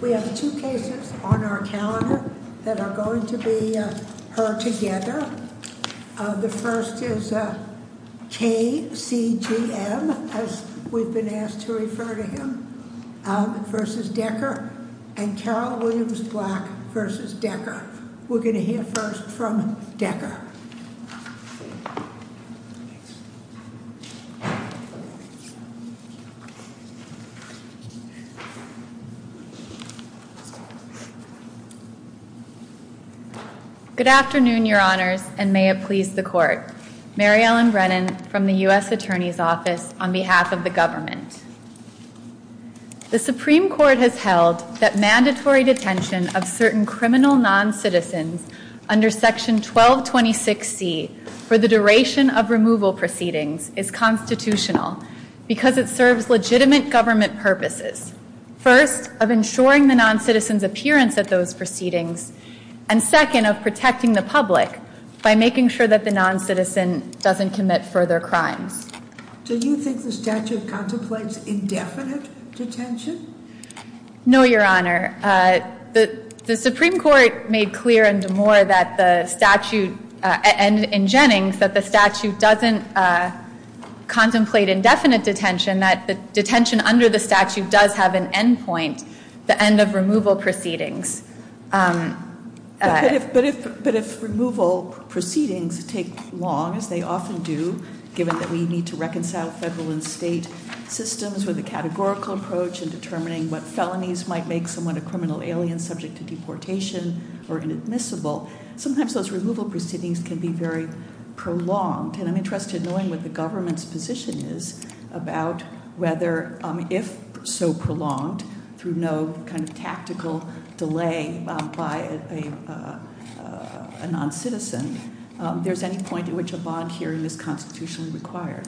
We have two cases on our calendar that are going to be heard together. The first is KCGM, as we've been asked to refer to him, v. Decker and Carol Williams Black v. Decker. We're going to hear first from Decker. Good afternoon, your honors, and may it please the court. Mary Ellen Brennan from the U.S. Attorney's Office on behalf of the government. The Supreme Court has held that mandatory detention of certain criminal non-citizens under Section 1226C for the duration of removal proceedings is constitutional because it serves legitimate government purposes. First, of ensuring the non-citizen's appearance at those proceedings and second, of protecting the public by making sure that the non-citizen doesn't commit further crimes. Do you think the statute contemplates indefinite detention? No, your honor. The Supreme Court made clear in Des Moines that the statute, and in Jennings, that the statute doesn't contemplate indefinite detention, that the detention under the statute does have an end point, the end of removal proceedings. But if removal proceedings take long, as they often do, given that we need to reconcile federal and state systems with a categorical approach in determining what felonies might make someone a criminal alien subject to deportation or inadmissible, sometimes those removal proceedings can be very prolonged. And I'm interested in knowing what the government's position is about whether, if so prolonged, through no kind of tactical delay by a non-citizen, there's any point at which a bond hearing is constitutionally required.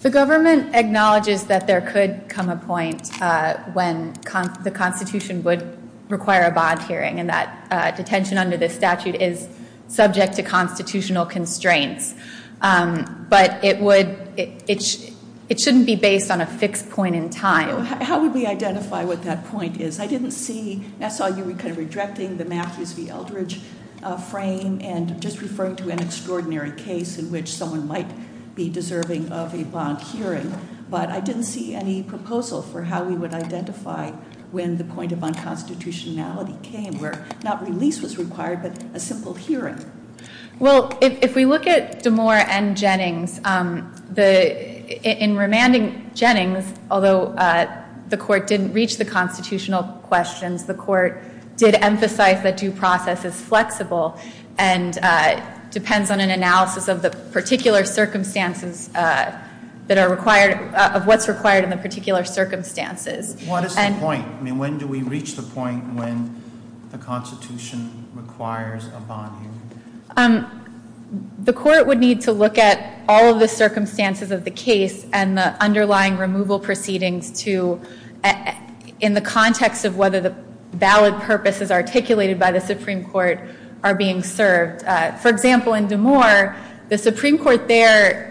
The government acknowledges that there could come a point when the Constitution would require a bond hearing and that detention under this statute is subject to constitutional constraints. But it shouldn't be based on a fixed point in time. How would we identify what that point is? I didn't see, I saw you were kind of rejecting the Matthews v. Eldridge frame, and just referring to an extraordinary case in which someone might be deserving of a bond hearing. But I didn't see any proposal for how we would identify when the point of unconstitutionality came, where not release was required, but a simple hearing. Well, if we look at Damore and Jennings, in remanding Jennings, although the Court didn't reach the constitutional questions, the Court did emphasize that due process is flexible and depends on an analysis of the particular circumstances that are required, of what's required in the particular circumstances. What is the point? I mean, when do we reach the point when the Constitution requires a bond hearing? The Court would need to look at all of the circumstances of the case and the underlying removal proceedings to, in the context of whether the valid purposes articulated by the Supreme Court are being served. For example, in Damore, the Supreme Court there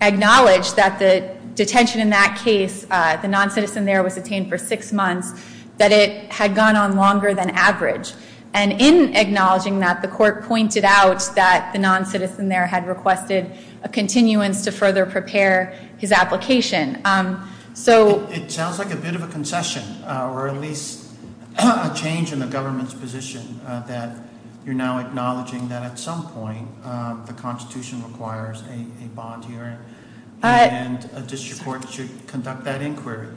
acknowledged that the detention in that case, the non-citizen there was detained for six months, that it had gone on longer than average. And in acknowledging that, the Court pointed out that the non-citizen there had requested a continuance to further prepare his application. It sounds like a bit of a concession or at least a change in the government's position that you're now acknowledging that at some point the Constitution requires a bond hearing and a district court should conduct that inquiry.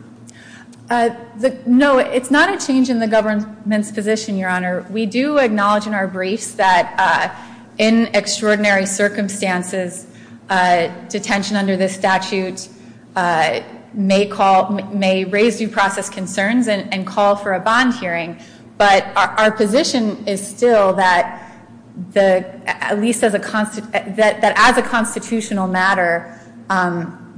No, it's not a change in the government's position, Your Honor. We do acknowledge in our briefs that in extraordinary circumstances, detention under this statute may raise due process concerns and call for a bond hearing. But our position is still that, at least as a constitutional matter,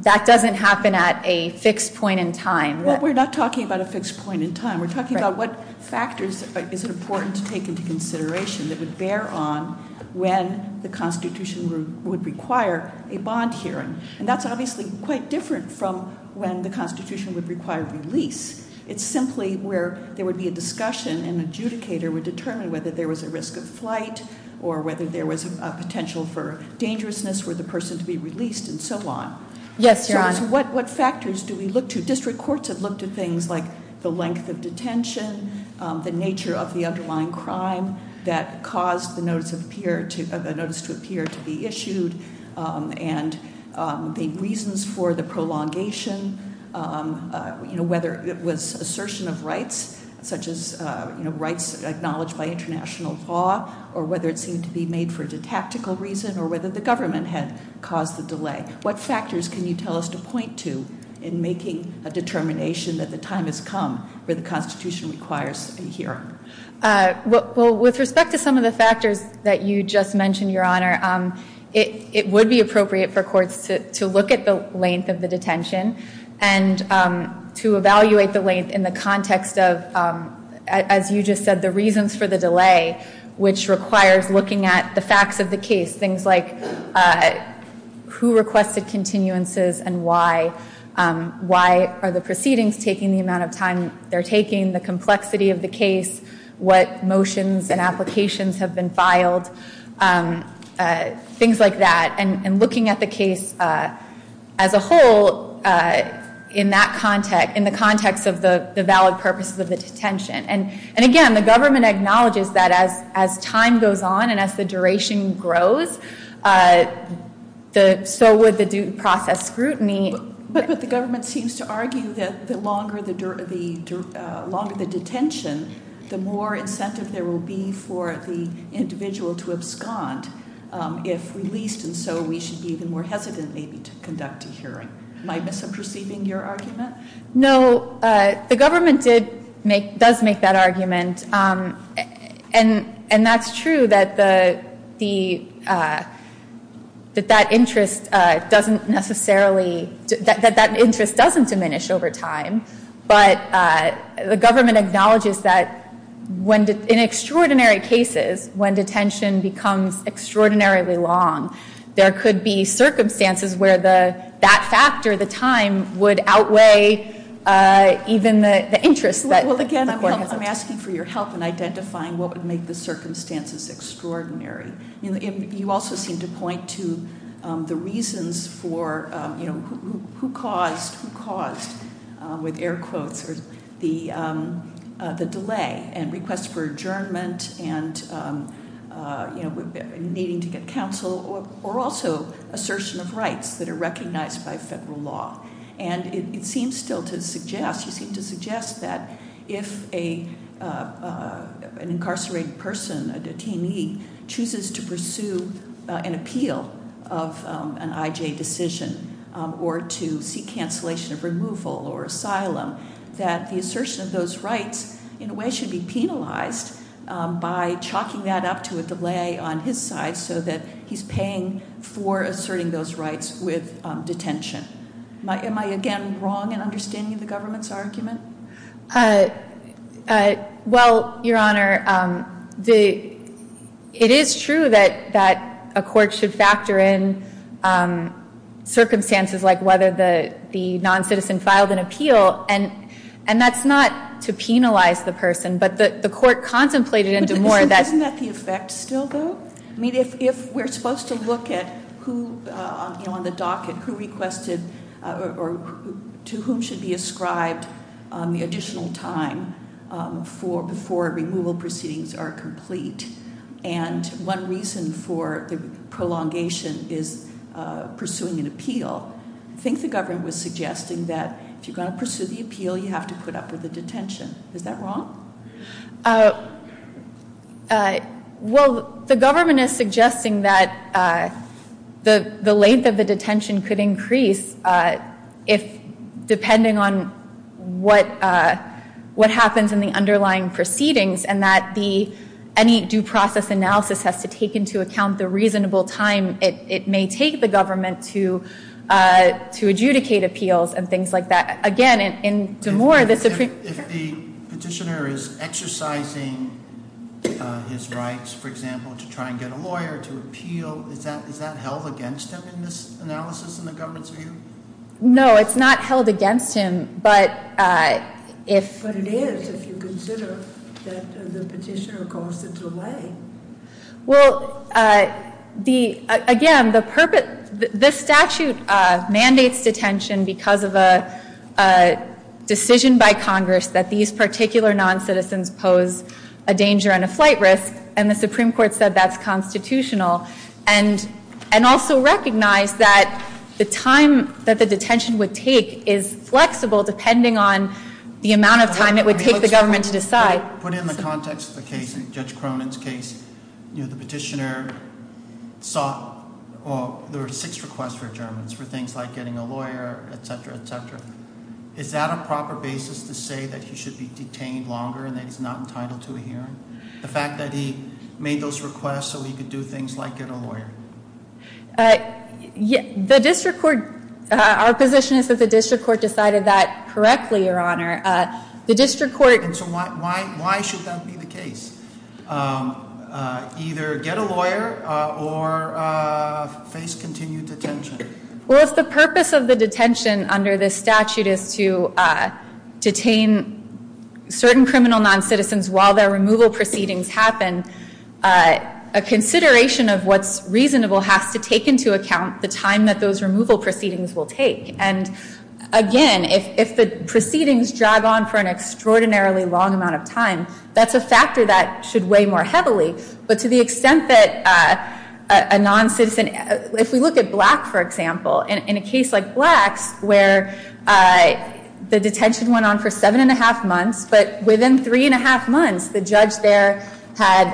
that doesn't happen at a fixed point in time. Well, we're not talking about a fixed point in time. We're talking about what factors is it important to take into consideration that would bear on when the Constitution would require a bond hearing. And that's obviously quite different from when the Constitution would require release. It's simply where there would be a discussion and an adjudicator would determine whether there was a risk of flight or whether there was a potential for dangerousness for the person to be released and so on. Yes, Your Honor. What factors do we look to? District courts have looked at things like the length of detention, the nature of the underlying crime that caused the notice to appear to be issued, and the reasons for the prolongation, whether it was assertion of rights, such as rights acknowledged by international law, or whether it seemed to be made for a tactical reason, or whether the government had caused the delay. What factors can you tell us to point to in making a determination that the time has come where the Constitution requires a hearing? Well, with respect to some of the factors that you just mentioned, Your Honor, it would be appropriate for courts to look at the length of the detention and to evaluate the length in the context of, as you just said, the reasons for the delay, which requires looking at the facts of the case, things like who requested continuances and why, why are the proceedings taking the amount of time they're taking, the complexity of the case, what motions and applications have been filed, things like that, and looking at the case as a whole in the context of the valid purposes of the detention. And again, the government acknowledges that as time goes on and as the duration grows, so would the due process scrutiny. But the government seems to argue that the longer the detention, the more incentive there will be for the individual to abscond if released, and so we should be even more hesitant maybe to conduct a hearing. Am I misinterpreting your argument? No. The government does make that argument, and that's true that that interest doesn't necessarily diminish over time, but the government acknowledges that in extraordinary cases, when detention becomes extraordinarily long, there could be circumstances where that factor, the time, would outweigh even the interest. Well, again, I'm asking for your help in identifying what would make the circumstances extraordinary. You also seem to point to the reasons for who caused, who caused, with air quotes, the delay and requests for adjournment and needing to get counsel or also assertion of rights that are recognized by federal law. And it seems still to suggest, you seem to suggest that if an incarcerated person, a detainee, chooses to pursue an appeal of an IJ decision or to seek cancellation of removal or asylum, that the assertion of those rights in a way should be penalized by chalking that up to a delay on his side so that he's paying for asserting those rights with detention. Am I, again, wrong in understanding the government's argument? Well, Your Honor, it is true that a court should factor in circumstances like whether the non-citizen filed an appeal, and that's not to penalize the person, but the court contemplated into more that- Isn't that the effect still, though? I mean, if we're supposed to look at who on the docket, who requested or to whom should be ascribed the additional time before removal proceedings are complete, and one reason for the prolongation is pursuing an appeal, I think the government was suggesting that if you're going to pursue the appeal, you have to put up with the detention. Is that wrong? Well, the government is suggesting that the length of the detention could increase depending on what happens in the underlying proceedings and that any due process analysis has to take into account the reasonable time it may take the government to adjudicate appeals and things like that. Again, into more that's a- If the petitioner is exercising his rights, for example, to try and get a lawyer to appeal, is that held against him in this analysis in the government's view? No, it's not held against him, but if- The petitioner caused a delay. Well, again, the statute mandates detention because of a decision by Congress that these particular noncitizens pose a danger and a flight risk, and the Supreme Court said that's constitutional and also recognized that the time that the detention would take is flexible depending on the amount of time it would take the government to decide. Put in the context of the case, Judge Cronin's case, the petitioner sought or there were six requests for adjournments for things like getting a lawyer, etc., etc. Is that a proper basis to say that he should be detained longer and that he's not entitled to a hearing? The fact that he made those requests so he could do things like get a lawyer? The district court- Our position is that the district court decided that correctly, Your Honor. And so why should that be the case? Either get a lawyer or face continued detention? Well, if the purpose of the detention under this statute is to detain certain criminal noncitizens while their removal proceedings happen, a consideration of what's reasonable has to take into account the time that those removal proceedings will take. And, again, if the proceedings drag on for an extraordinarily long amount of time, that's a factor that should weigh more heavily. But to the extent that a noncitizen- If we look at Black, for example, in a case like Black's where the detention went on for seven and a half months, but within three and a half months the judge there had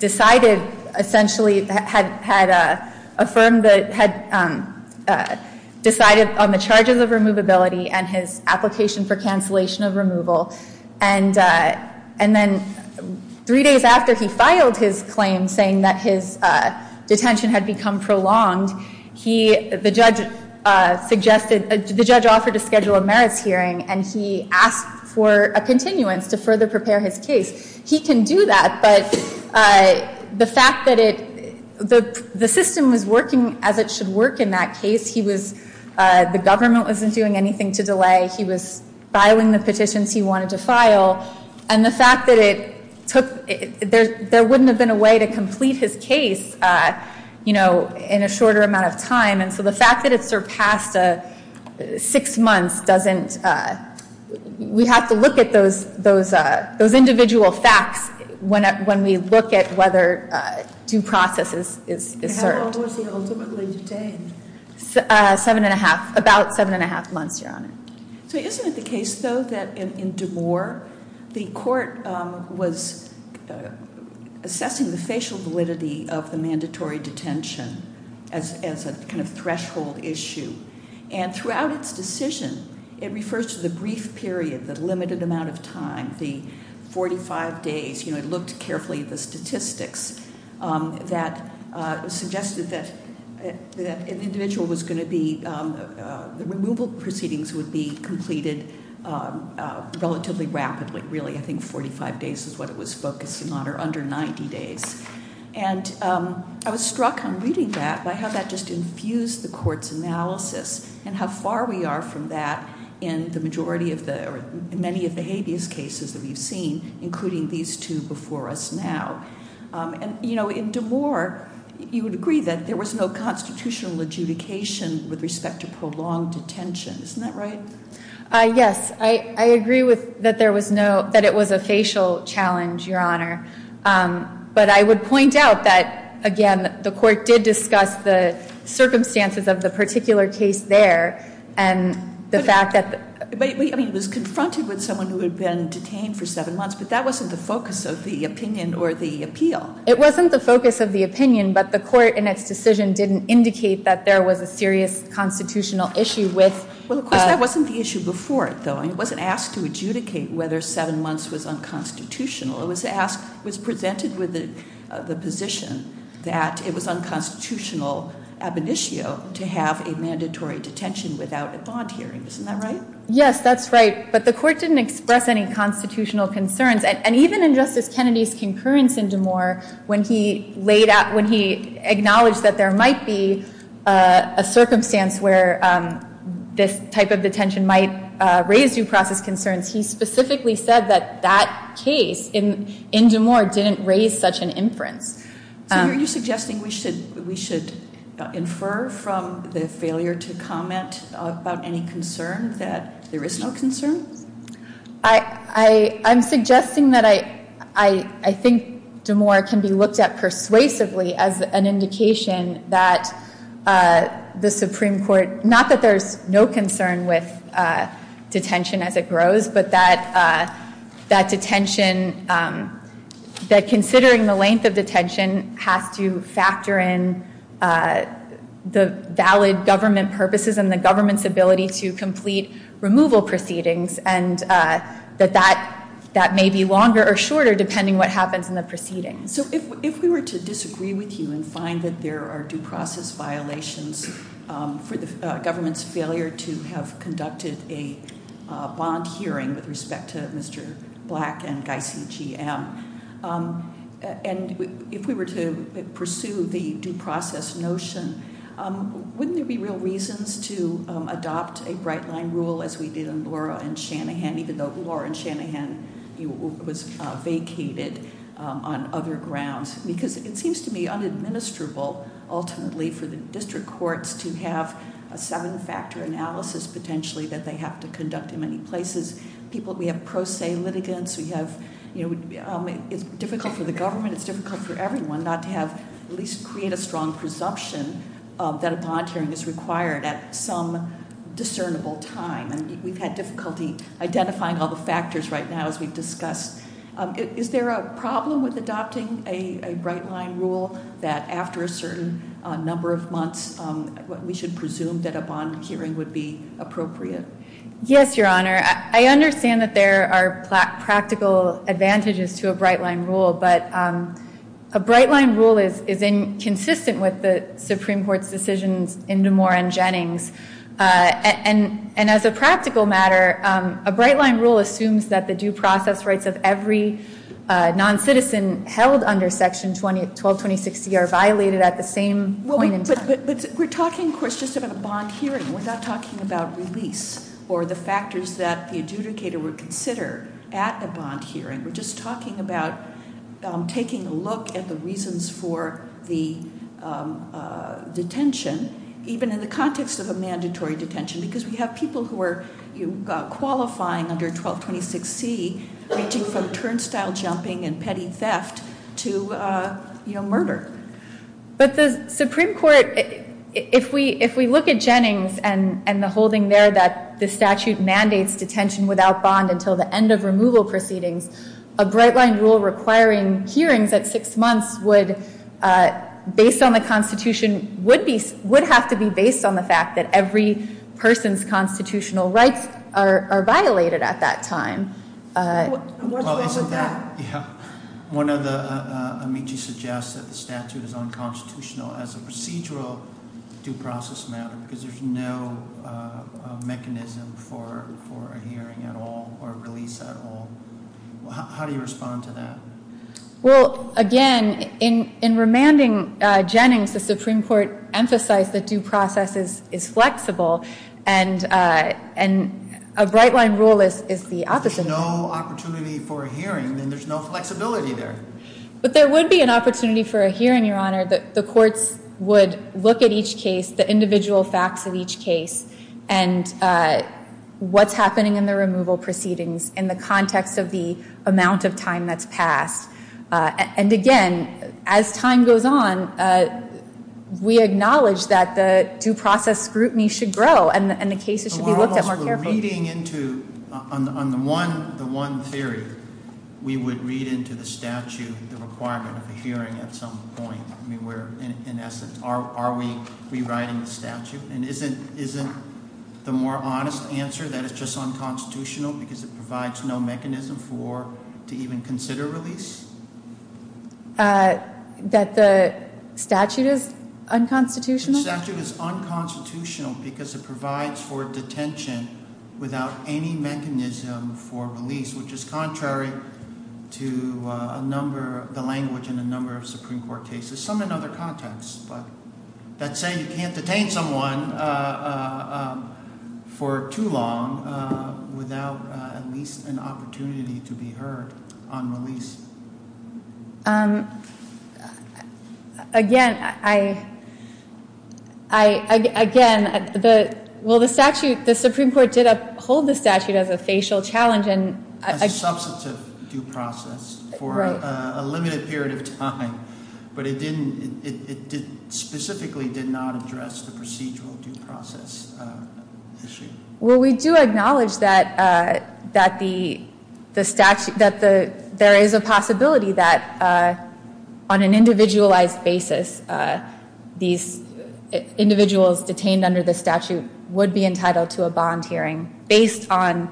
decided, essentially had affirmed the- had decided on the charges of removability and his application for cancellation of removal. And then three days after he filed his claim saying that his detention had become prolonged, he- the judge suggested- the judge offered to schedule a merits hearing and he asked for a continuance to further prepare his case. He can do that, but the fact that it- the system was working as it should work in that case. He was- the government wasn't doing anything to delay. He was filing the petitions he wanted to file. And the fact that it took- there wouldn't have been a way to complete his case, you know, in a shorter amount of time. And so the fact that it surpassed six months doesn't- We have to look at those individual facts when we look at whether due process is certain. How long was he ultimately detained? Seven and a half- about seven and a half months, Your Honor. So isn't it the case, though, that in DeMoor, the court was assessing the facial validity of the mandatory detention as a kind of threshold issue. And throughout its decision, it refers to the brief period, the limited amount of time, the 45 days. You know, it looked carefully at the statistics that suggested that an individual was going to be- the removal proceedings would be completed relatively rapidly, really. I think 45 days is what it was focused on, or under 90 days. And I was struck on reading that by how that just infused the court's analysis and how far we are from that in the majority of the- or many of the habeas cases that we've seen, including these two before us now. And, you know, in DeMoor, you would agree that there was no constitutional adjudication with respect to prolonged detention. Isn't that right? Yes. I agree with- that there was no- that it was a facial challenge, Your Honor. But I would point out that, again, the court did discuss the circumstances of the particular case there and the fact that- But, I mean, it was confronted with someone who had been detained for seven months, but that wasn't the focus of the opinion or the appeal. It wasn't the focus of the opinion, but the court, in its decision, didn't indicate that there was a serious constitutional issue with- Well, of course, that wasn't the issue before it, though. It wasn't asked to adjudicate whether seven months was unconstitutional. It was presented with the position that it was unconstitutional ab initio to have a mandatory detention without a bond hearing. Isn't that right? Yes, that's right. But the court didn't express any constitutional concerns. And even in Justice Kennedy's concurrence in DeMoor, when he laid out- when he acknowledged that there might be a circumstance where this type of detention might raise due process concerns, he specifically said that that case in DeMoor didn't raise such an inference. So are you suggesting we should infer from the failure to comment about any concern that there is no concern? I'm suggesting that I think DeMoor can be looked at persuasively as an indication that the Supreme Court- not that there's no concern with detention as it grows, but that that detention- that considering the length of detention has to factor in the valid government purposes and the government's ability to complete removal proceedings, and that that may be longer or shorter depending what happens in the proceedings. So if we were to disagree with you and find that there are due process violations for the government's failure to have conducted a bond hearing with respect to Mr. Black and Geisse, GM, and if we were to pursue the due process notion, wouldn't there be real reasons to adopt a bright line rule as we did in Laura and Shanahan, even though Laura and Shanahan was vacated on other grounds? Because it seems to me unadministrable, ultimately, for the district courts to have a seven-factor analysis potentially that they have to conduct in many places. We have pro se litigants. It's difficult for the government. It's difficult for everyone not to at least create a strong presumption that a bond hearing is required at some discernible time. We've had difficulty identifying all the factors right now as we've discussed. Is there a problem with adopting a bright line rule that after a certain number of months, we should presume that a bond hearing would be appropriate? Yes, Your Honor. I understand that there are practical advantages to a bright line rule, but a bright line rule is inconsistent with the Supreme Court's decisions in Damore and Jennings. And as a practical matter, a bright line rule assumes that the due process rights of every non-citizen held under Section 122060 are violated at the same point in time. But we're talking, of course, just about a bond hearing. We're not talking about release or the factors that the adjudicator would consider at a bond hearing. We're just talking about taking a look at the reasons for the detention, even in the context of a mandatory detention, because we have people who are qualifying under 1226C, ranging from turnstile jumping and petty theft to murder. But the Supreme Court, if we look at Jennings and the holding there that the statute mandates detention without bond until the end of removal proceedings, a bright line rule requiring hearings at six months would, based on the Constitution, would have to be based on the fact that every person's constitutional rights are violated at that time. What's wrong with that? Yeah. Amici suggests that the statute is unconstitutional as a procedural due process matter because there's no mechanism for a hearing at all or a release at all. How do you respond to that? Well, again, in remanding Jennings, the Supreme Court emphasized that due process is flexible, and a bright line rule is the opposite. If there's no opportunity for a hearing, then there's no flexibility there. But there would be an opportunity for a hearing, Your Honor. The courts would look at each case, the individual facts of each case, and what's happening in the removal proceedings in the context of the amount of time that's passed. And, again, as time goes on, we acknowledge that the due process scrutiny should grow, and the cases should be looked at more carefully. On the one theory, we would read into the statute the requirement of a hearing at some point. In essence, are we rewriting the statute? And isn't the more honest answer that it's just unconstitutional because it provides no mechanism to even consider release? That the statute is unconstitutional? The statute is unconstitutional because it provides for detention without any mechanism for release, which is contrary to the language in a number of Supreme Court cases, some in other contexts. But let's say you can't detain someone for too long without at least an opportunity to be heard on release. Again, I, again, the, well, the statute, the Supreme Court did uphold the statute as a facial challenge. As a substantive due process for a limited period of time. But it didn't, it specifically did not address the procedural due process issue. Well, we do acknowledge that the statute, that there is a possibility that on an individualized basis, these individuals detained under the statute would be entitled to a bond hearing based on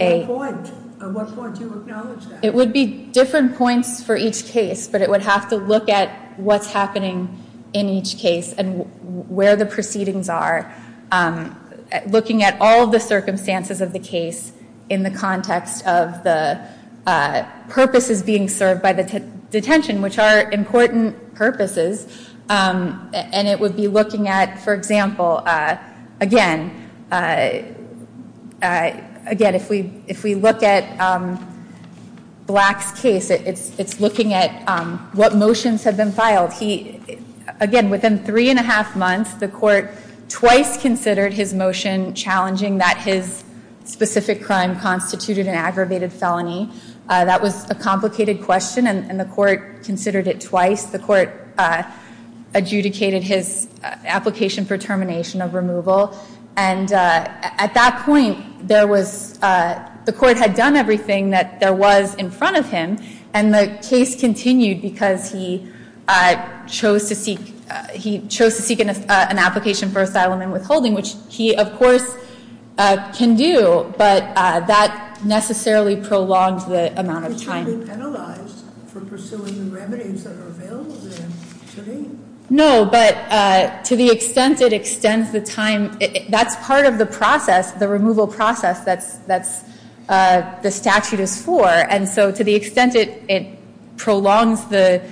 a- At what point? At what point do you acknowledge that? It would be different points for each case. But it would have to look at what's happening in each case and where the proceedings are. Looking at all the circumstances of the case in the context of the purposes being served by the detention, which are important purposes. And it would be looking at, for example, again, again, if we look at Black's case, it's looking at what motions have been filed. He, again, within three and a half months, the court twice considered his motion challenging that his specific crime constituted an aggravated felony. That was a complicated question and the court considered it twice. The court adjudicated his application for termination of removal. And at that point, there was, the court had done everything that there was in front of him. And the case continued because he chose to seek, he chose to seek an application for asylum and withholding, which he, of course, can do. But that necessarily prolonged the amount of time. Is he penalized for pursuing the remedies that are available to him today? No, but to the extent it extends the time, that's part of the process, the removal process that the statute is for. And so to the extent it prolongs the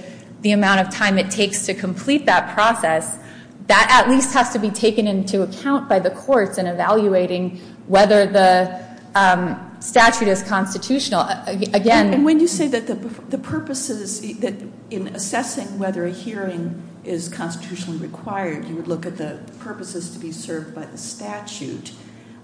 amount of time it takes to complete that process, that at least has to be taken into account by the courts in evaluating whether the statute is constitutional. Again- And when you say that the purposes, that in assessing whether a hearing is constitutionally required, you would look at the purposes to be served by the statute,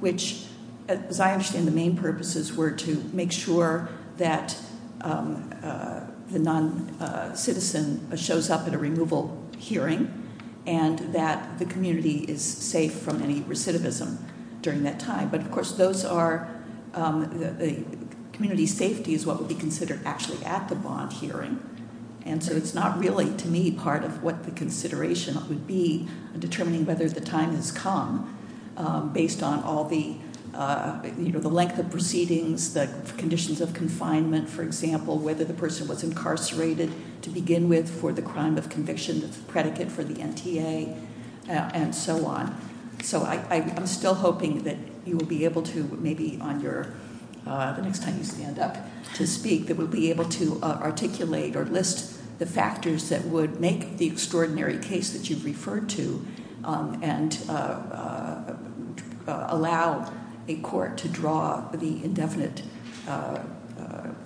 which, as I understand, the main purposes were to make sure that the non-citizen shows up at a removal hearing and that the community is safe from any recidivism during that time. But, of course, those are, community safety is what would be considered actually at the bond hearing. And so it's not really, to me, part of what the consideration would be in determining whether the time has come based on all the length of proceedings, the conditions of confinement, for example, whether the person was incarcerated to begin with for the crime of conviction that's a predicate for the NTA, and so on. So I'm still hoping that you will be able to maybe on your, the next time you stand up to speak, that we'll be able to articulate or list the factors that would make the extraordinary case that you've referred to and allow a court to draw the indefinite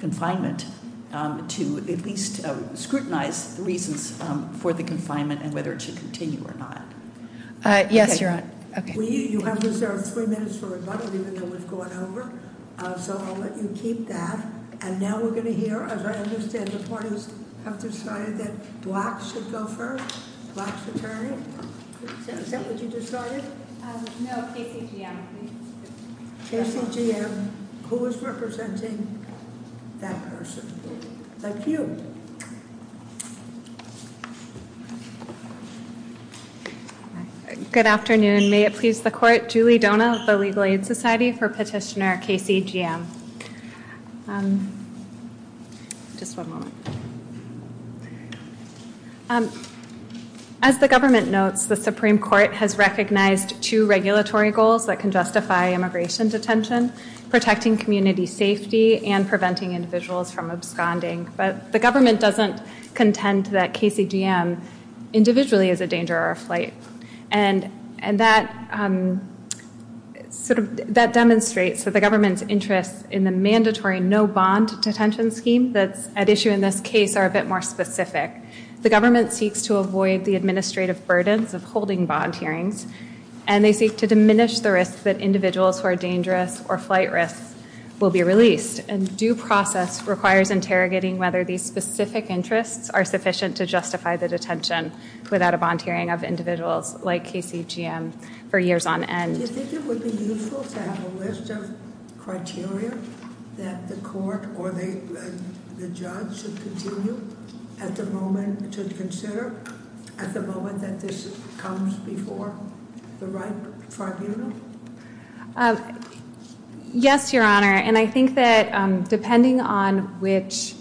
confinement to at least scrutinize the reasons for the confinement and whether it should continue or not. Yes, you're on. You have reserved three minutes for rebuttal, even though we've gone over. So I'll let you keep that. And now we're going to hear, as I understand the parties have decided that blacks should go first, black fraternity. Is that what you decided? No, KCGM. KCGM. Who is representing that person? Thank you. Good afternoon. May it please the court. Julie Donah of the Legal Aid Society for petitioner KCGM. Just one moment. As the government notes, the Supreme Court has recognized two regulatory goals that can justify immigration detention, protecting community safety and preventing individuals from absconding. But the government doesn't contend that KCGM individually is a danger or a flight. And that demonstrates that the government's interests in the mandatory no bond detention scheme that's at issue in this case are a bit more specific. The government seeks to avoid the administrative burdens of holding bond hearings, and they seek to diminish the risk that individuals who are dangerous or flight risks will be released. And due process requires interrogating whether these specific interests are sufficient to justify the detention without a bond hearing of individuals like KCGM for years on end. Do you think it would be useful to have a list of criteria that the court or the judge should continue at the moment to consider at the moment that this comes before the right tribunal? Yes, Your Honor. And I think that depending on which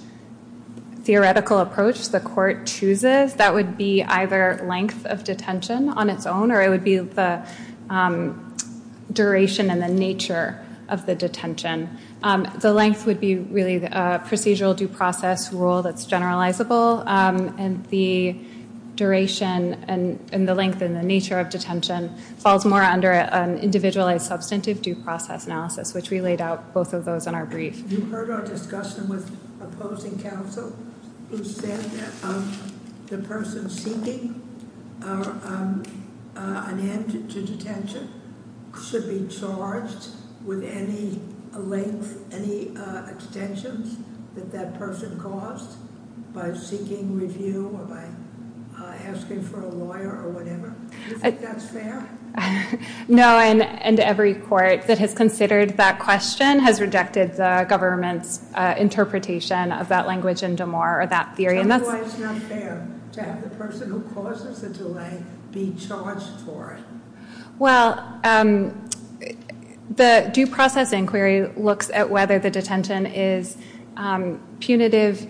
theoretical approach the court chooses, that would be either length of detention on its own, or it would be the duration and the nature of the detention. The length would be really a procedural due process rule that's generalizable, and the duration and the length and the nature of detention falls more under an individualized substantive due process analysis, which we laid out both of those in our brief. Have you heard our discussion with opposing counsel who said that the person seeking an end to detention should be charged with any length, any detentions that that person caused by seeking review or by asking for a lawyer or whatever? Do you think that's fair? No, and every court that has considered that question has rejected the government's interpretation of that language in Damar or that theory. Tell me why it's not fair to have the person who causes the delay be charged for it. Well, the due process inquiry looks at whether the detention is punitive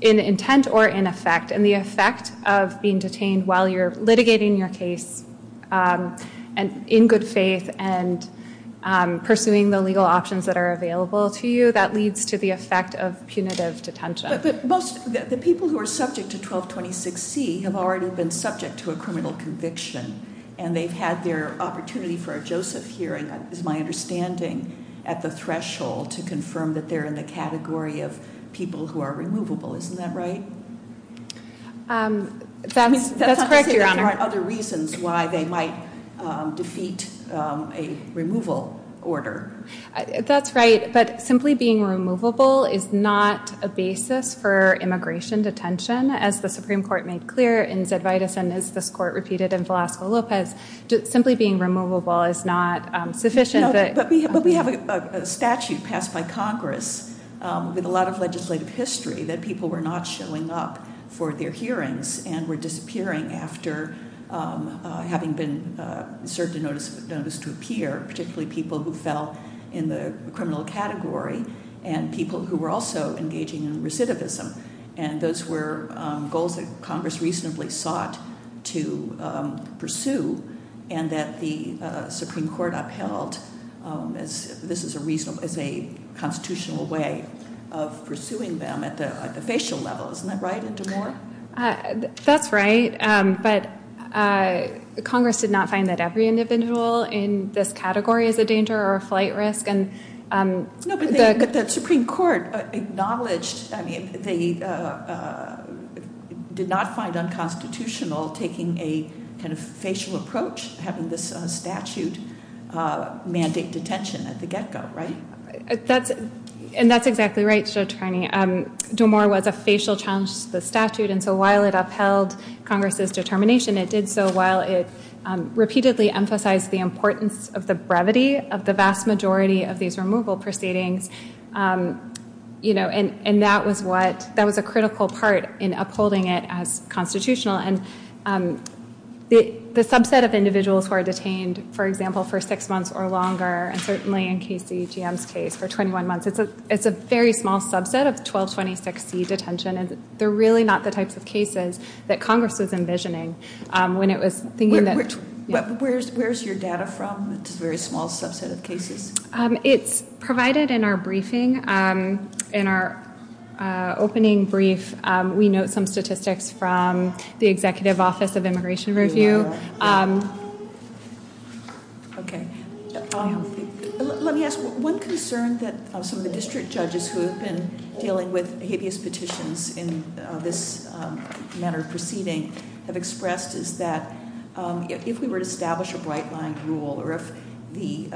in intent or in effect, and the effect of being detained while you're litigating your case in good faith and pursuing the legal options that are available to you, that leads to the effect of punitive detention. But the people who are subject to 1226C have already been subject to a criminal conviction, and they've had their opportunity for a Joseph hearing, it is my understanding, at the threshold to confirm that they're in the category of people who are removable. Isn't that right? That's correct, Your Honor. That's not to say there aren't other reasons why they might defeat a removal order. That's right, but simply being removable is not a basis for immigration detention, as the Supreme Court made clear in Zedvitas and as this Court repeated in Velasco-Lopez. Simply being removable is not sufficient. But we have a statute passed by Congress with a lot of legislative history that people were not showing up for their hearings and were disappearing after having been served a notice to appear, particularly people who fell in the criminal category and people who were also engaging in recidivism. And those were goals that Congress reasonably sought to pursue, and that the Supreme Court upheld as a constitutional way of pursuing them at the facial level. Isn't that right, D'Amour? That's right, but Congress did not find that every individual in this category is a danger or a flight risk. No, but the Supreme Court acknowledged, I mean, they did not find unconstitutional taking a kind of facial approach, having this statute mandate detention at the get-go, right? And that's exactly right, Judge Carney. D'Amour was a facial challenge to the statute, and so while it upheld Congress's determination, it did so while it repeatedly emphasized the importance of the brevity of the vast majority of these removal proceedings. And that was a critical part in upholding it as constitutional. And the subset of individuals who are detained, for example, for six months or longer, and certainly in KCGM's case, for 21 months, it's a very small subset of 1226C detention, and they're really not the types of cases that Congress was envisioning when it was thinking that- Where's your data from? It's a very small subset of cases. It's provided in our briefing. In our opening brief, we note some statistics from the Executive Office of Immigration Review. Okay. Let me ask, one concern that some of the district judges who have been dealing with habeas petitions in this manner of proceeding have expressed is that if we were to establish a bright-line rule or if the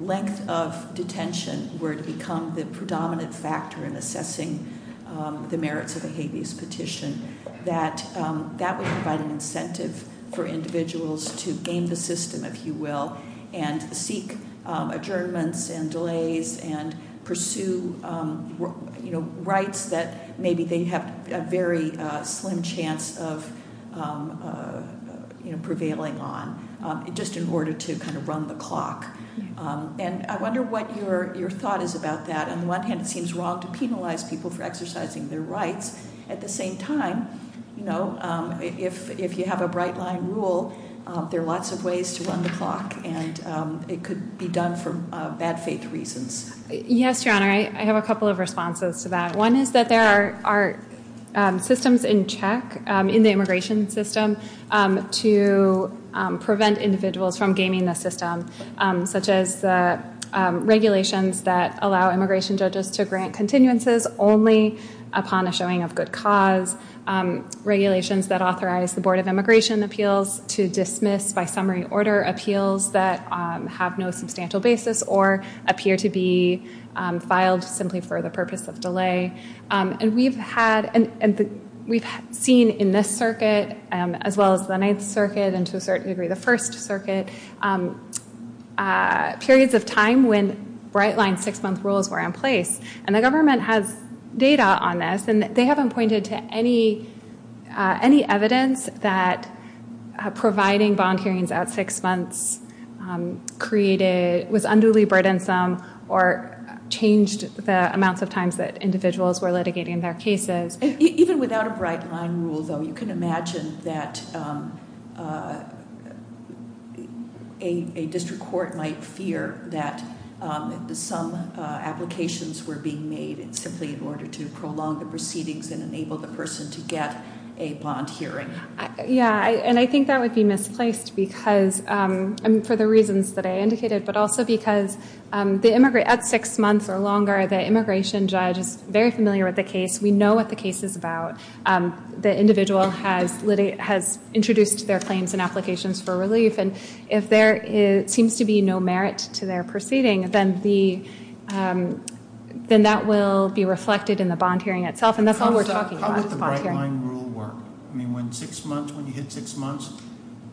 length of detention were to become the predominant factor in assessing the merits of a habeas petition, that that would provide an incentive for individuals to game the system, if you will, and seek adjournments and delays and pursue rights that maybe they have a very slim chance of prevailing on, just in order to kind of run the clock. And I wonder what your thought is about that. On the one hand, it seems wrong to penalize people for exercising their rights. At the same time, if you have a bright-line rule, there are lots of ways to run the clock, and it could be done for bad faith reasons. Yes, Your Honor. I have a couple of responses to that. One is that there are systems in check in the immigration system to prevent individuals from gaming the system, such as regulations that allow immigration judges to grant continuances only upon a showing of good cause, regulations that authorize the Board of Immigration Appeals to dismiss by summary order appeals that have no substantial basis or appear to be filed simply for the purpose of delay. And we've seen in this circuit, as well as the Ninth Circuit and, to a certain degree, the First Circuit, periods of time when bright-line six-month rules were in place. And the government has data on this, and they haven't pointed to any evidence that providing bond hearings at six months was unduly burdensome or changed the amounts of times that individuals were litigating their cases. Even without a bright-line rule, though, you can imagine that a district court might fear that some applications were being made simply in order to prolong the proceedings and enable the person to get a bond hearing. Yeah, and I think that would be misplaced for the reasons that I indicated, but also because at six months or longer, the immigration judge is very familiar with the case. We know what the case is about. The individual has introduced their claims and applications for relief, and if there seems to be no merit to their proceeding, then that will be reflected in the bond hearing itself, and that's all we're talking about is the bond hearing. How would the bright-line rule work? I mean, when you hit six months,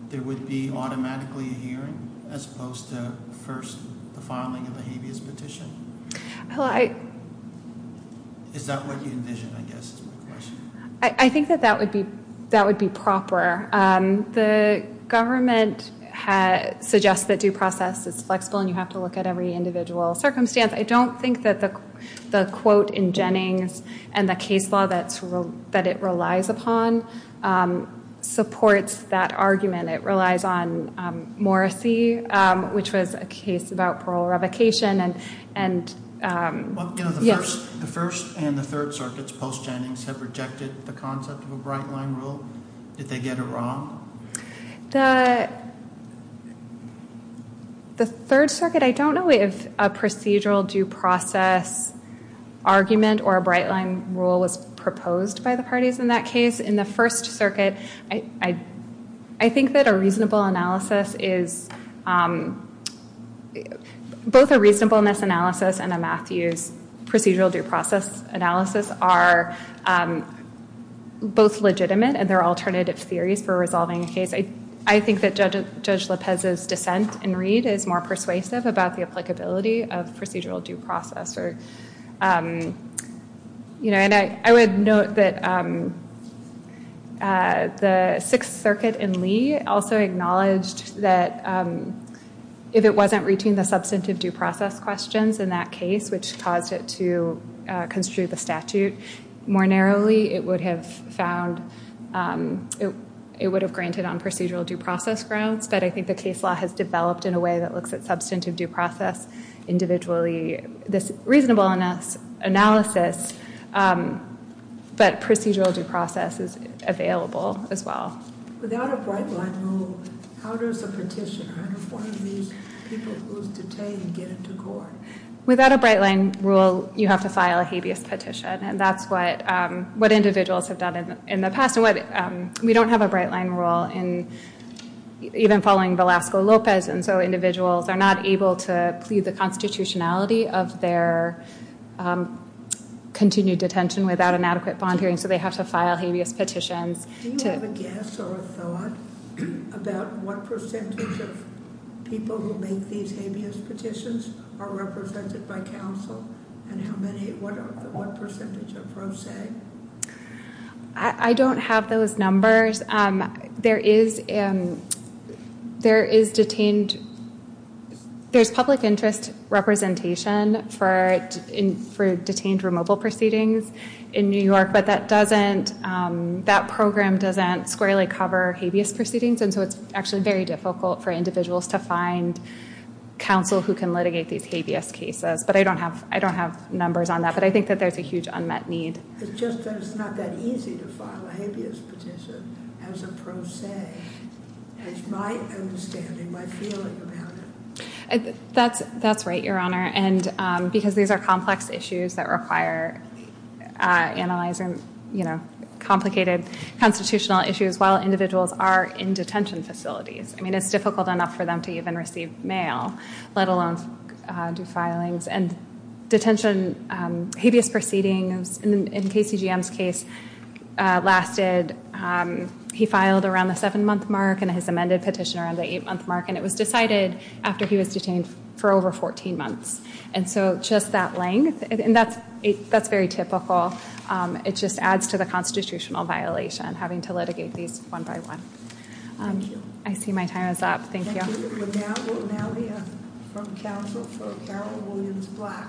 there would be automatically a hearing as opposed to first the filing of a habeas petition? Is that what you envision, I guess, is my question? I think that that would be proper. The government suggests that due process is flexible and you have to look at every individual circumstance. I don't think that the quote in Jennings and the case law that it relies upon supports that argument. It relies on Morrissey, which was a case about parole revocation. The First and the Third Circuits post-Jennings have rejected the concept of a bright-line rule. Did they get it wrong? The Third Circuit, I don't know if a procedural due process argument or a bright-line rule was proposed by the parties in that case. In the First Circuit, I think that a reasonableness analysis and a Matthews procedural due process analysis are both legitimate and there are alternative theories for resolving a case. I think that Judge Lopez's dissent in Reed is more persuasive about the applicability of procedural due process. I would note that the Sixth Circuit in Lee also acknowledged that if it wasn't reaching the substantive due process questions in that case, which caused it to construe the statute more narrowly, it would have granted on procedural due process grounds. But I think the case law has developed in a way that looks at substantive due process individually. This reasonableness analysis, but procedural due process is available as well. Without a bright-line rule, how does a petitioner, one of these people who's detained, get into court? Without a bright-line rule, you have to file a habeas petition. That's what individuals have done in the past. We don't have a bright-line rule, even following Velasco Lopez. Individuals are not able to plead the constitutionality of their continued detention without an adequate bond hearing, so they have to file habeas petitions. Do you have a guess or a thought about what percentage of people who make these habeas petitions are represented by counsel? And what percentage are pro se? I don't have those numbers. There is public interest representation for detained removal proceedings in New York, but that program doesn't squarely cover habeas proceedings, and so it's actually very difficult for individuals to find counsel who can litigate these habeas cases. But I don't have numbers on that, but I think that there's a huge unmet need. It's just that it's not that easy to file a habeas petition as a pro se. That's my understanding, my feeling about it. That's right, Your Honor, because these are complex issues that require analyzing complicated constitutional issues while individuals are in detention facilities. I mean, it's difficult enough for them to even receive mail, let alone do filings. And detention habeas proceedings in KCGM's case lasted, he filed around the seven-month mark and his amended petition around the eight-month mark, and it was decided after he was detained for over 14 months. And so just that length, and that's very typical. It just adds to the constitutional violation, having to litigate these one by one. I see my time is up. Thank you. We will now hear from counsel for Carol Williams Black.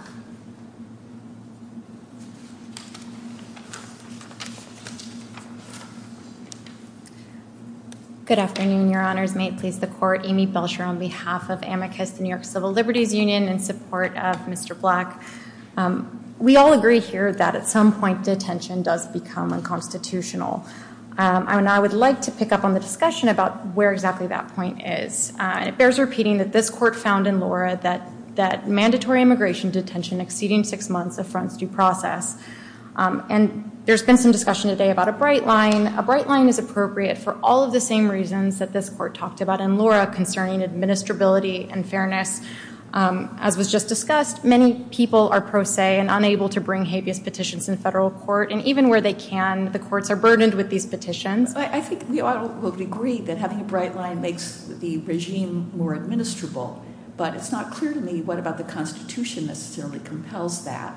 Good afternoon, Your Honors. May it please the Court. Amy Belcher on behalf of Amicus, the New York Civil Liberties Union, in support of Mr. Black. We all agree here that at some point detention does become unconstitutional. And I would like to pick up on the discussion about where exactly that point is. It bears repeating that this Court found in Laura that mandatory immigration detention exceeding six months affronts due process. And there's been some discussion today about a bright line. A bright line is appropriate for all of the same reasons that this Court talked about in Laura concerning administrability and fairness. As was just discussed, many people are pro se and unable to bring habeas petitions in federal court. And even where they can, the courts are burdened with these petitions. I think we all would agree that having a bright line makes the regime more administrable. But it's not clear to me what about the Constitution necessarily compels that.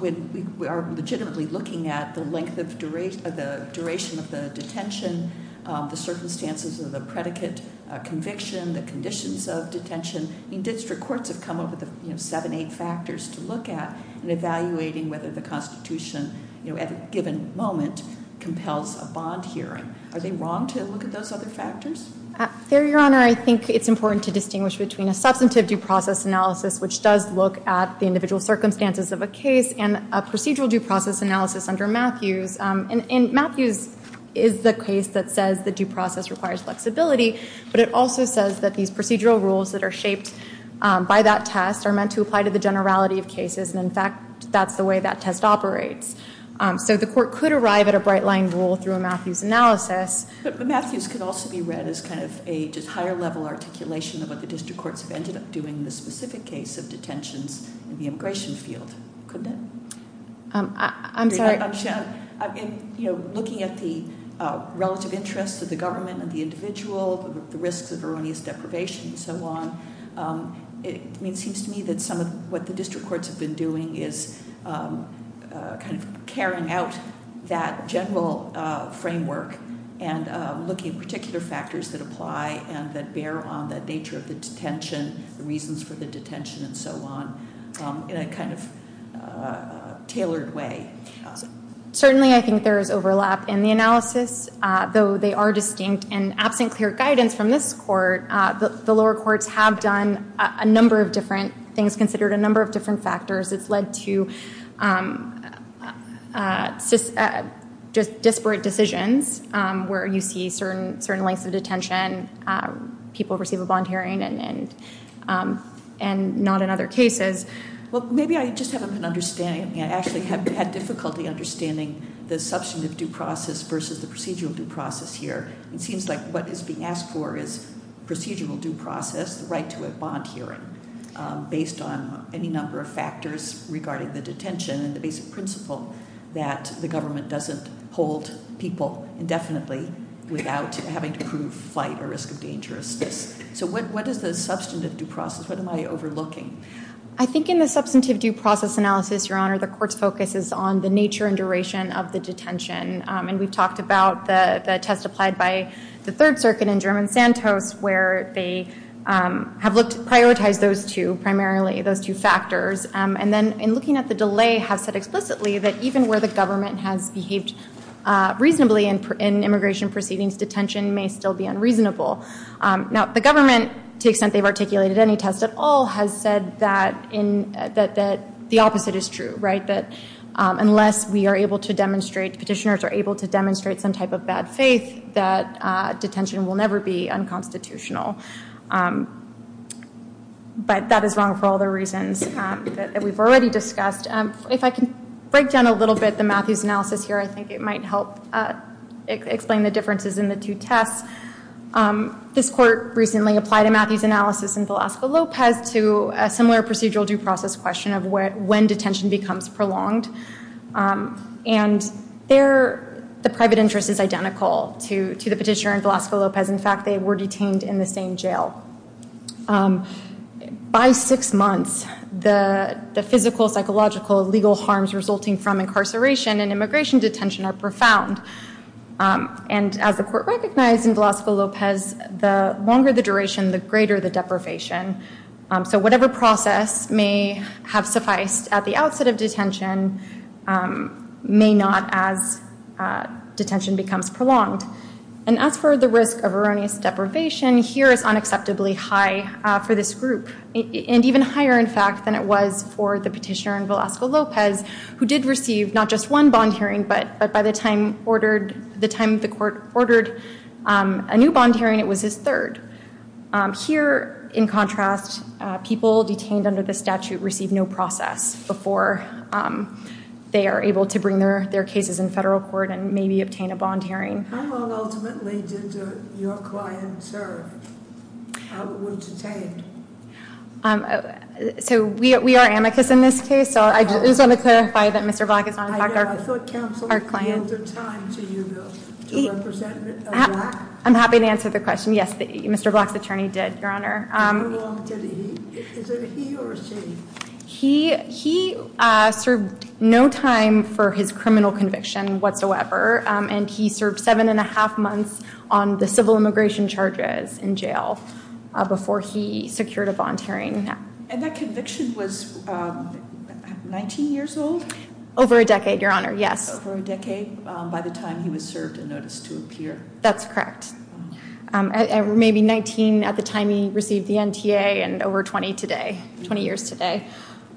We are legitimately looking at the length of duration of the detention, the circumstances of the predicate conviction, the conditions of detention. District courts have come up with seven, eight factors to look at in evaluating whether the Constitution at a given moment compels a bond hearing. Are they wrong to look at those other factors? Fair Your Honor, I think it's important to distinguish between a substantive due process analysis, which does look at the individual circumstances of a case, and a procedural due process analysis under Matthews. And Matthews is the case that says the due process requires flexibility. But it also says that these procedural rules that are shaped by that test are meant to apply to the generality of cases. And in fact, that's the way that test operates. So the court could arrive at a bright line rule through a Matthews analysis. But Matthews could also be read as kind of a just higher level articulation of what the district courts have ended up doing in the specific case of detentions in the immigration field, couldn't it? I'm sorry. In looking at the relative interest of the government and the individual, the risks of erroneous deprivation and so on, it seems to me that some of what the district courts have been doing is kind of carrying out that general framework. And looking at particular factors that apply and that bear on the nature of the detention, the reasons for the detention and so on, in a kind of tailored way. Certainly, I think there is overlap in the analysis, though they are distinct. And absent clear guidance from this court, the lower courts have done a number of different things, considered a number of different factors. It's led to just disparate decisions where you see certain lengths of detention. People receive a bond hearing and not in other cases. Well, maybe I just haven't been understanding. I actually have had difficulty understanding the substantive due process versus the procedural due process here. It seems like what is being asked for is procedural due process, the right to a bond hearing, based on any number of factors regarding the detention and the basic principle that the government doesn't hold people indefinitely without having to prove flight or risk of dangerousness. So what is the substantive due process? What am I overlooking? I think in the substantive due process analysis, Your Honor, the court's focus is on the nature and duration of the detention. And we've talked about the test applied by the Third Circuit in German Santos, where they have prioritized those two, primarily, those two factors. And then in looking at the delay, have said explicitly that even where the government has behaved reasonably in immigration proceedings, detention may still be unreasonable. Now, the government, to the extent they've articulated any test at all, has said that the opposite is true, right? That unless we are able to demonstrate, petitioners are able to demonstrate some type of bad faith, that detention will never be unconstitutional. But that is wrong for all the reasons that we've already discussed. If I can break down a little bit the Matthews analysis here, I think it might help explain the differences in the two tests. This court recently applied a Matthews analysis in Velasco Lopez to a similar procedural due process question of when detention becomes prolonged. And the private interest is identical to the petitioner in Velasco Lopez. In fact, they were detained in the same jail. By six months, the physical, psychological, legal harms resulting from incarceration and immigration detention are profound. And as the court recognized in Velasco Lopez, the longer the duration, the greater the deprivation. So whatever process may have sufficed at the outset of detention may not as detention becomes prolonged. And as for the risk of erroneous deprivation, here is unacceptably high for this group. And even higher, in fact, than it was for the petitioner in Velasco Lopez, who did receive not just one bond hearing, but by the time the court ordered a new bond hearing, it was his third. Here, in contrast, people detained under the statute receive no process before they are able to bring their cases in federal court and maybe obtain a bond hearing. How long, ultimately, did your client serve? How long was he detained? So we are amicus in this case. So I just want to clarify that Mr. Black is not in fact our client. I thought counsel gave the time to you to represent Black? I'm happy to answer the question. Yes, Mr. Black's attorney did, Your Honor. How long did he, is it he or she? He served no time for his criminal conviction whatsoever. And he served seven and a half months on the civil immigration charges in jail before he secured a bond hearing. And that conviction was 19 years old? Over a decade, Your Honor, yes. Over a decade by the time he was served a notice to appear? That's correct. Maybe 19 at the time he received the NTA and over 20 today, 20 years today.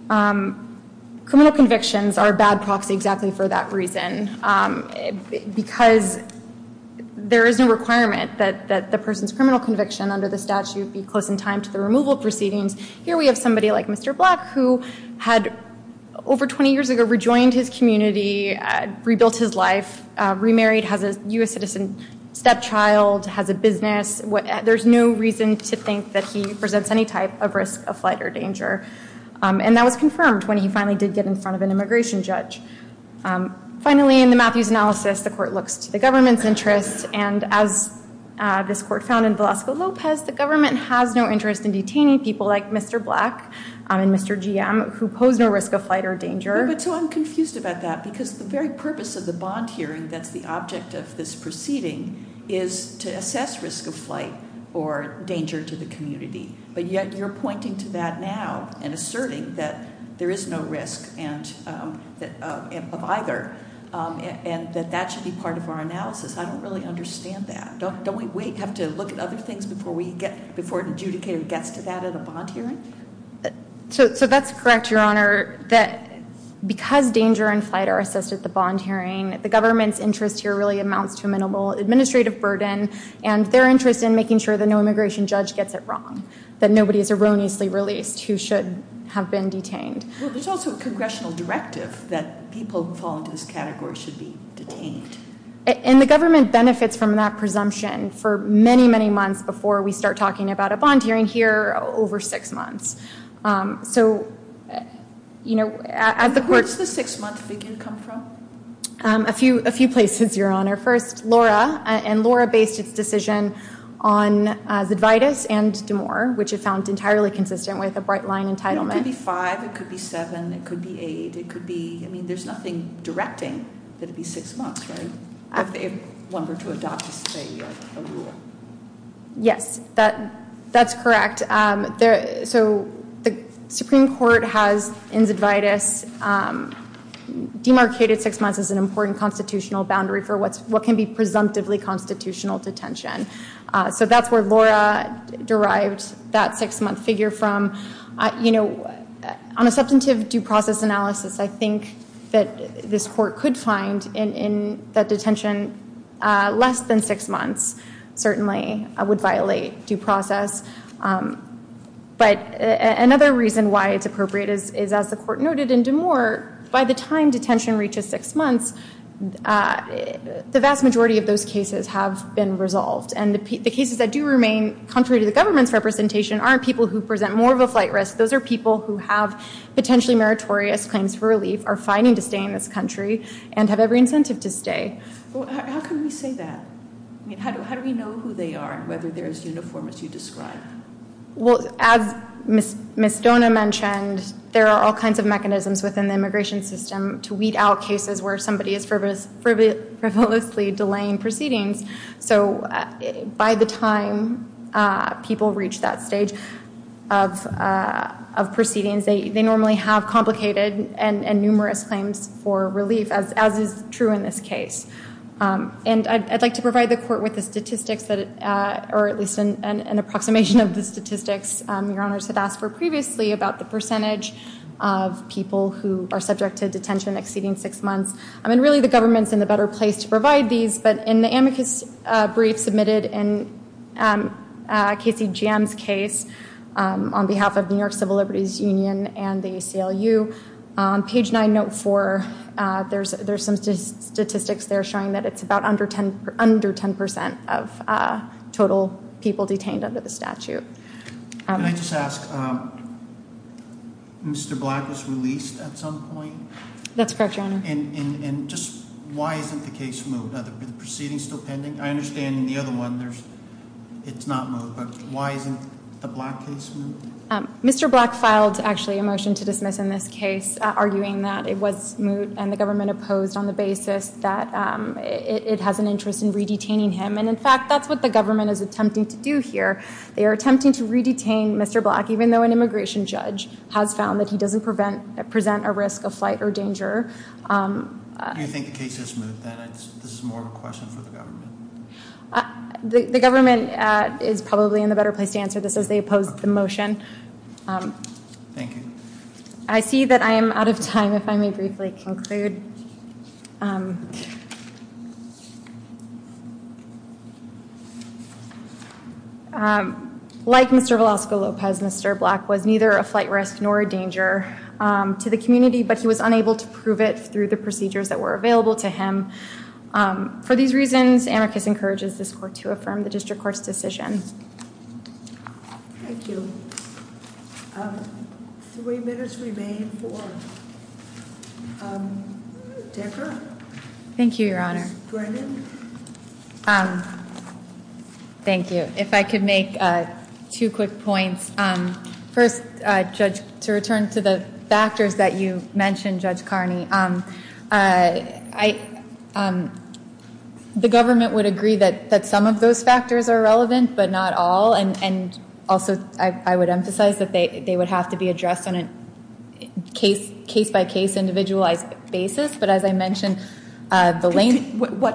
Criminal convictions are a bad proxy exactly for that reason. Because there is no requirement that the person's criminal conviction under the statute be close in time to the removal proceedings. Here we have somebody like Mr. Black who had over 20 years ago rejoined his community, rebuilt his life, remarried, has a U.S. citizen stepchild, has a business. There's no reason to think that he presents any type of risk of flight or danger. And that was confirmed when he finally did get in front of an immigration judge. Finally, in the Matthews analysis, the court looks to the government's interest. And as this court found in Velasco Lopez, the government has no interest in detaining people like Mr. Black and Mr. GM who pose no risk of flight or danger. But so I'm confused about that because the very purpose of the bond hearing that's the object of this proceeding is to assess risk of flight or danger to the community. But yet you're pointing to that now and asserting that there is no risk of either. And that that should be part of our analysis. I don't really understand that. Don't we have to look at other things before an adjudicator gets to that at a bond hearing? So that's correct, Your Honor, that because danger and flight are assessed at the bond hearing, the government's interest here really amounts to a minimal administrative burden. And their interest in making sure that no immigration judge gets it wrong, that nobody is erroneously released who should have been detained. Well, there's also a congressional directive that people who fall into this category should be detained. And the government benefits from that presumption for many, many months before we start talking about a bond hearing here, over six months. So, you know, at the court. Where does the six month big income come from? A few places, Your Honor. First, Laura. And Laura based its decision on Zydvitas and DeMoor, which it found entirely consistent with a bright line entitlement. It could be five. It could be seven. It could be eight. It could be, I mean, there's nothing directing that it be six months, right? If one were to adopt, say, a rule. Yes, that's correct. So the Supreme Court has in Zydvitas demarcated six months as an important constitutional boundary for what can be presumptively constitutional detention. So that's where Laura derived that six month figure from. You know, on a substantive due process analysis, I think that this court could find in that detention less than six months certainly would violate due process. But another reason why it's appropriate is, as the court noted in DeMoor, by the time detention reaches six months, the vast majority of those cases have been resolved. And the cases that do remain contrary to the government's representation aren't people who present more of a flight risk. Those are people who have potentially meritorious claims for relief, are fighting to stay in this country, and have every incentive to stay. How can we say that? I mean, how do we know who they are and whether they're as uniform as you describe? Well, as Ms. Stona mentioned, there are all kinds of mechanisms within the immigration system to weed out cases where somebody is frivolously delaying proceedings. So by the time people reach that stage of proceedings, they normally have complicated and numerous claims for relief, as is true in this case. And I'd like to provide the court with the statistics, or at least an approximation of the statistics Your Honors had asked for previously, about the percentage of people who are subject to detention exceeding six months. I mean, really, the government's in a better place to provide these. But in the amicus brief submitted in Casey Jam's case on behalf of New York Civil Liberties Union and the ACLU, on page nine, note four, there's some statistics there showing that it's about under 10% of total people detained under the statute. Can I just ask, Mr. Black was released at some point? That's correct, Your Honor. And just why isn't the case moved? Are the proceedings still pending? I understand in the other one, it's not moved. But why isn't the Black case moved? Mr. Black filed, actually, a motion to dismiss in this case, arguing that it was moved and the government opposed on the basis that it has an interest in re-detaining him. And in fact, that's what the government is attempting to do here. They are attempting to re-detain Mr. Black, even though an immigration judge has found that he doesn't present a risk of flight or danger. Do you think the case is moved, then? This is more of a question for the government. The government is probably in the better place to answer this, as they opposed the motion. Thank you. I see that I am out of time, if I may briefly conclude. Like Mr. Velasco Lopez, Mr. Black was neither a flight risk nor a danger to the community, but he was unable to prove it through the procedures that were available to him. For these reasons, Amicus encourages this court to affirm the district court's decision. Thank you. Three minutes remain for Decker. Thank you, Your Honor. Ms. Brennan? Thank you. If I could make two quick points. First, Judge, to return to the factors that you mentioned, Judge Carney, the government would agree that some of those factors are relevant, but not all. And also, I would emphasize that they would have to be addressed on a case-by-case, individualized basis. What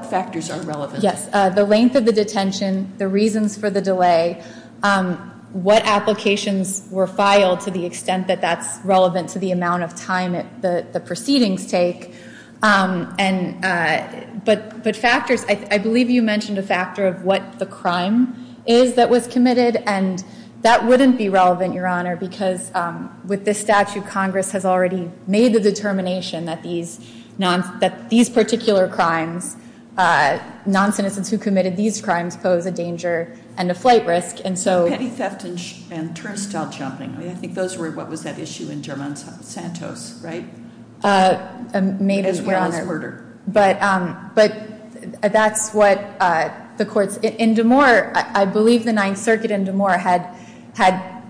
factors are relevant? The length of the detention, the reasons for the delay, what applications were filed to the extent that that's relevant to the amount of time the proceedings take. But factors, I believe you mentioned a factor of what the crime is that was committed, because with this statute, Congress has already made the determination that these particular crimes, non-citizens who committed these crimes pose a danger and a flight risk. And so petty theft and turnstile jumping, I think those were what was at issue in German Santos, right? Maybe, Your Honor. As well as murder. But that's what the courts. In D'Amour, I believe the Ninth Circuit in D'Amour had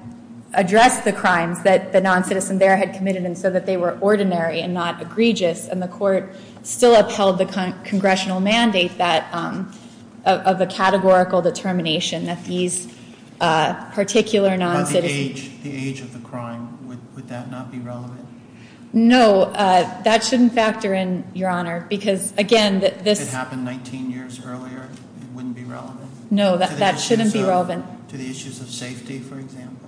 addressed the crimes that the non-citizen there had committed and said that they were ordinary and not egregious, and the court still upheld the congressional mandate of a categorical determination that these particular non-citizens. At the age of the crime, would that not be relevant? No, that shouldn't factor in, Your Honor, because, again, this- 19 years earlier wouldn't be relevant. No, that shouldn't be relevant. To the issues of safety, for example.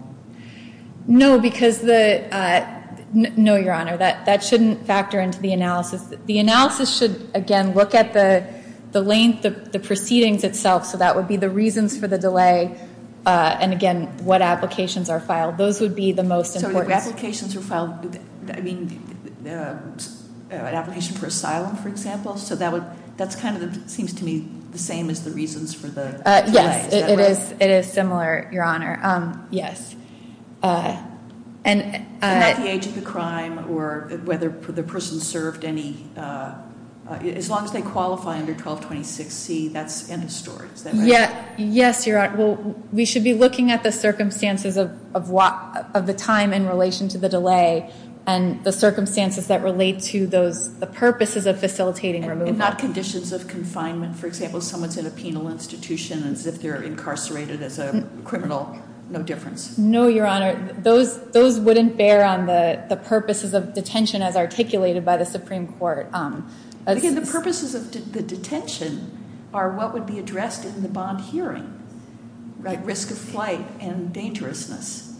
No, because the, no, Your Honor, that shouldn't factor into the analysis. The analysis should, again, look at the length of the proceedings itself, so that would be the reasons for the delay and, again, what applications are filed. Those would be the most important. So the applications are filed, I mean, an application for asylum, for example, so that's kind of seems to me the same as the reasons for the delay. Yes, it is similar, Your Honor. Yes. And at the age of the crime or whether the person served any, as long as they qualify under 1226C, that's in the story. Is that right? Yes, Your Honor. Well, we should be looking at the circumstances of the time in relation to the delay and the circumstances that relate to the purposes of facilitating removal. And not conditions of confinement. For example, someone's in a penal institution as if they're incarcerated as a criminal, no difference. No, Your Honor. Those wouldn't bear on the purposes of detention as articulated by the Supreme Court. Again, the purposes of the detention are what would be addressed in the bond hearing, right? Risk of flight and dangerousness.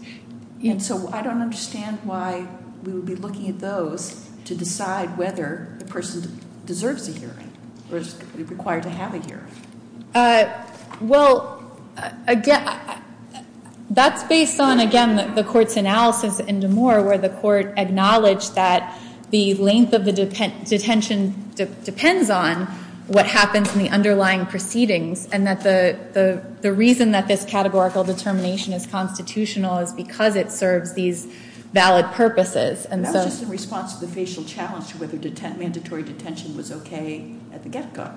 And so I don't understand why we would be looking at those to decide whether the person deserves a hearing or is required to have a hearing. Well, again, that's based on, again, the Court's analysis in DeMoor where the Court acknowledged that the length of the detention depends on what happens in the underlying proceedings and that the reason that this categorical determination is constitutional is because it serves these valid purposes. And that was just in response to the facial challenge to whether mandatory detention was okay at the get-go.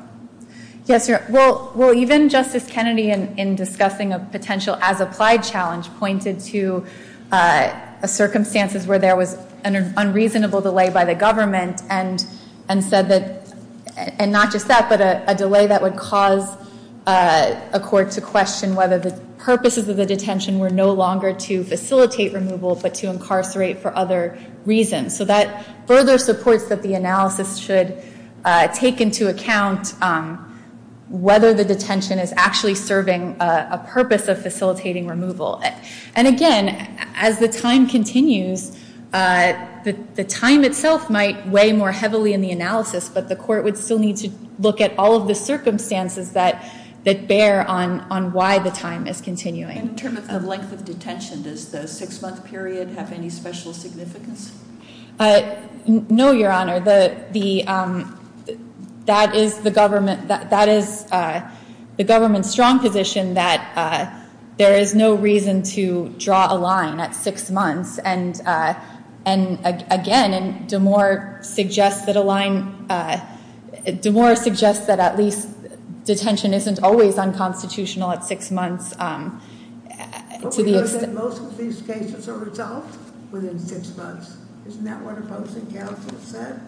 Yes, Your Honor. Well, even Justice Kennedy, in discussing a potential as-applied challenge, pointed to circumstances where there was an unreasonable delay by the government and said that, and not just that, but a delay that would cause a court to question whether the purposes of the detention were no longer to facilitate removal but to incarcerate for other reasons. So that further supports that the analysis should take into account whether the detention is actually serving a purpose of facilitating removal. And again, as the time continues, the time itself might weigh more heavily in the analysis, but the Court would still need to look at all of the circumstances that bear on why the time is continuing. In terms of the length of detention, does the six-month period have any special significance? No, Your Honor. That is the government's strong position that there is no reason to draw a line at six months. And again, DeMoore suggests that at least detention isn't always unconstitutional at six months. But we know that most of these cases are resolved within six months. Isn't that what opposing counsel said?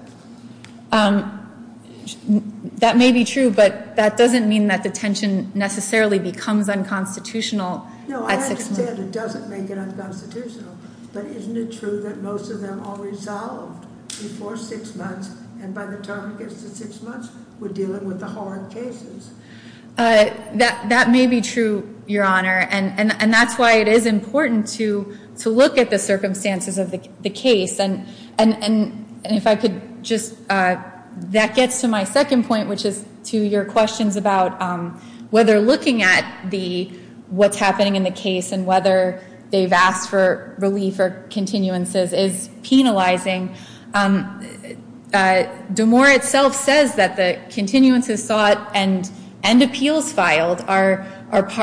That may be true, but that doesn't mean that detention necessarily becomes unconstitutional at six months. As I said, it doesn't make it unconstitutional. But isn't it true that most of them are resolved before six months, and by the time it gets to six months, we're dealing with the hard cases? That may be true, Your Honor, and that's why it is important to look at the circumstances of the case. And if I could just – that gets to my second point, which is to your questions about whether looking at what's happening in the case and whether they've asked for relief or continuances is penalizing. DeMoore itself says that the continuances sought and appeals filed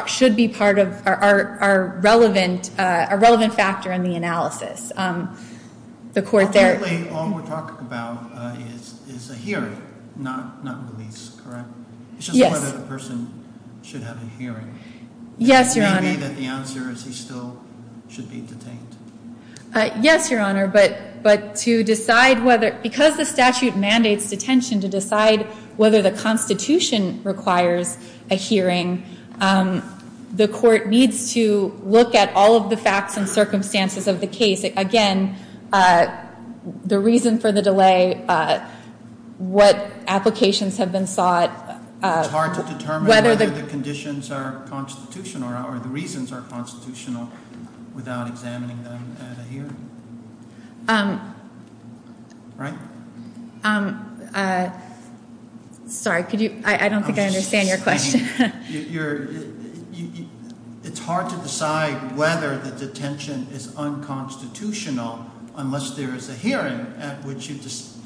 should be part of our relevant factor in the analysis. Ultimately, all we're talking about is a hearing, not release, correct? Yes. It's just whether the person should have a hearing. Yes, Your Honor. And it may be that the answer is he still should be detained. Yes, Your Honor, but to decide whether – because the statute mandates detention to decide whether the Constitution requires a hearing, the court needs to look at all of the facts and circumstances of the case. Again, the reason for the delay, what applications have been sought. It's hard to determine whether the conditions are constitutional or the reasons are constitutional without examining them at a hearing. Right? Sorry, could you – I don't think I understand your question. It's hard to decide whether the detention is unconstitutional unless there is a hearing at which you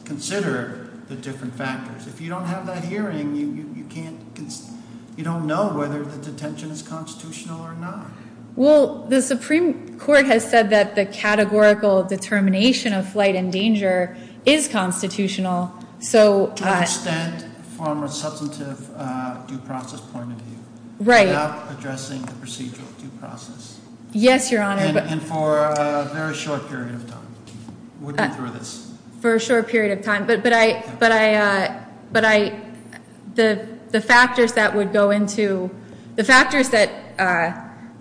consider the different factors. If you don't have that hearing, you can't – you don't know whether the detention is constitutional or not. Well, the Supreme Court has said that the categorical determination of flight and danger is constitutional, so –– from a substantive due process point of view. Right. Without addressing the procedural due process. Yes, Your Honor. And for a very short period of time. For a short period of time, but I – the factors that would go into – the factors that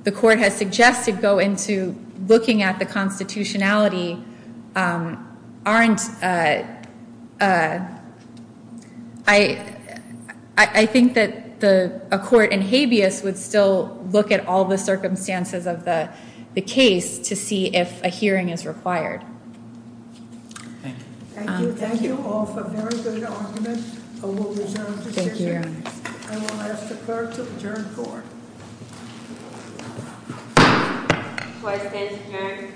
the court has suggested go into looking at the constitutionality aren't – I think that a court in habeas would still look at all the circumstances of the case to see if a hearing is required. Thank you. Thank you. Thank you all for a very good argument. I will reserve the decision. Thank you, Your Honor. I will ask the clerk to adjourn court. Court is adjourned. Thank you.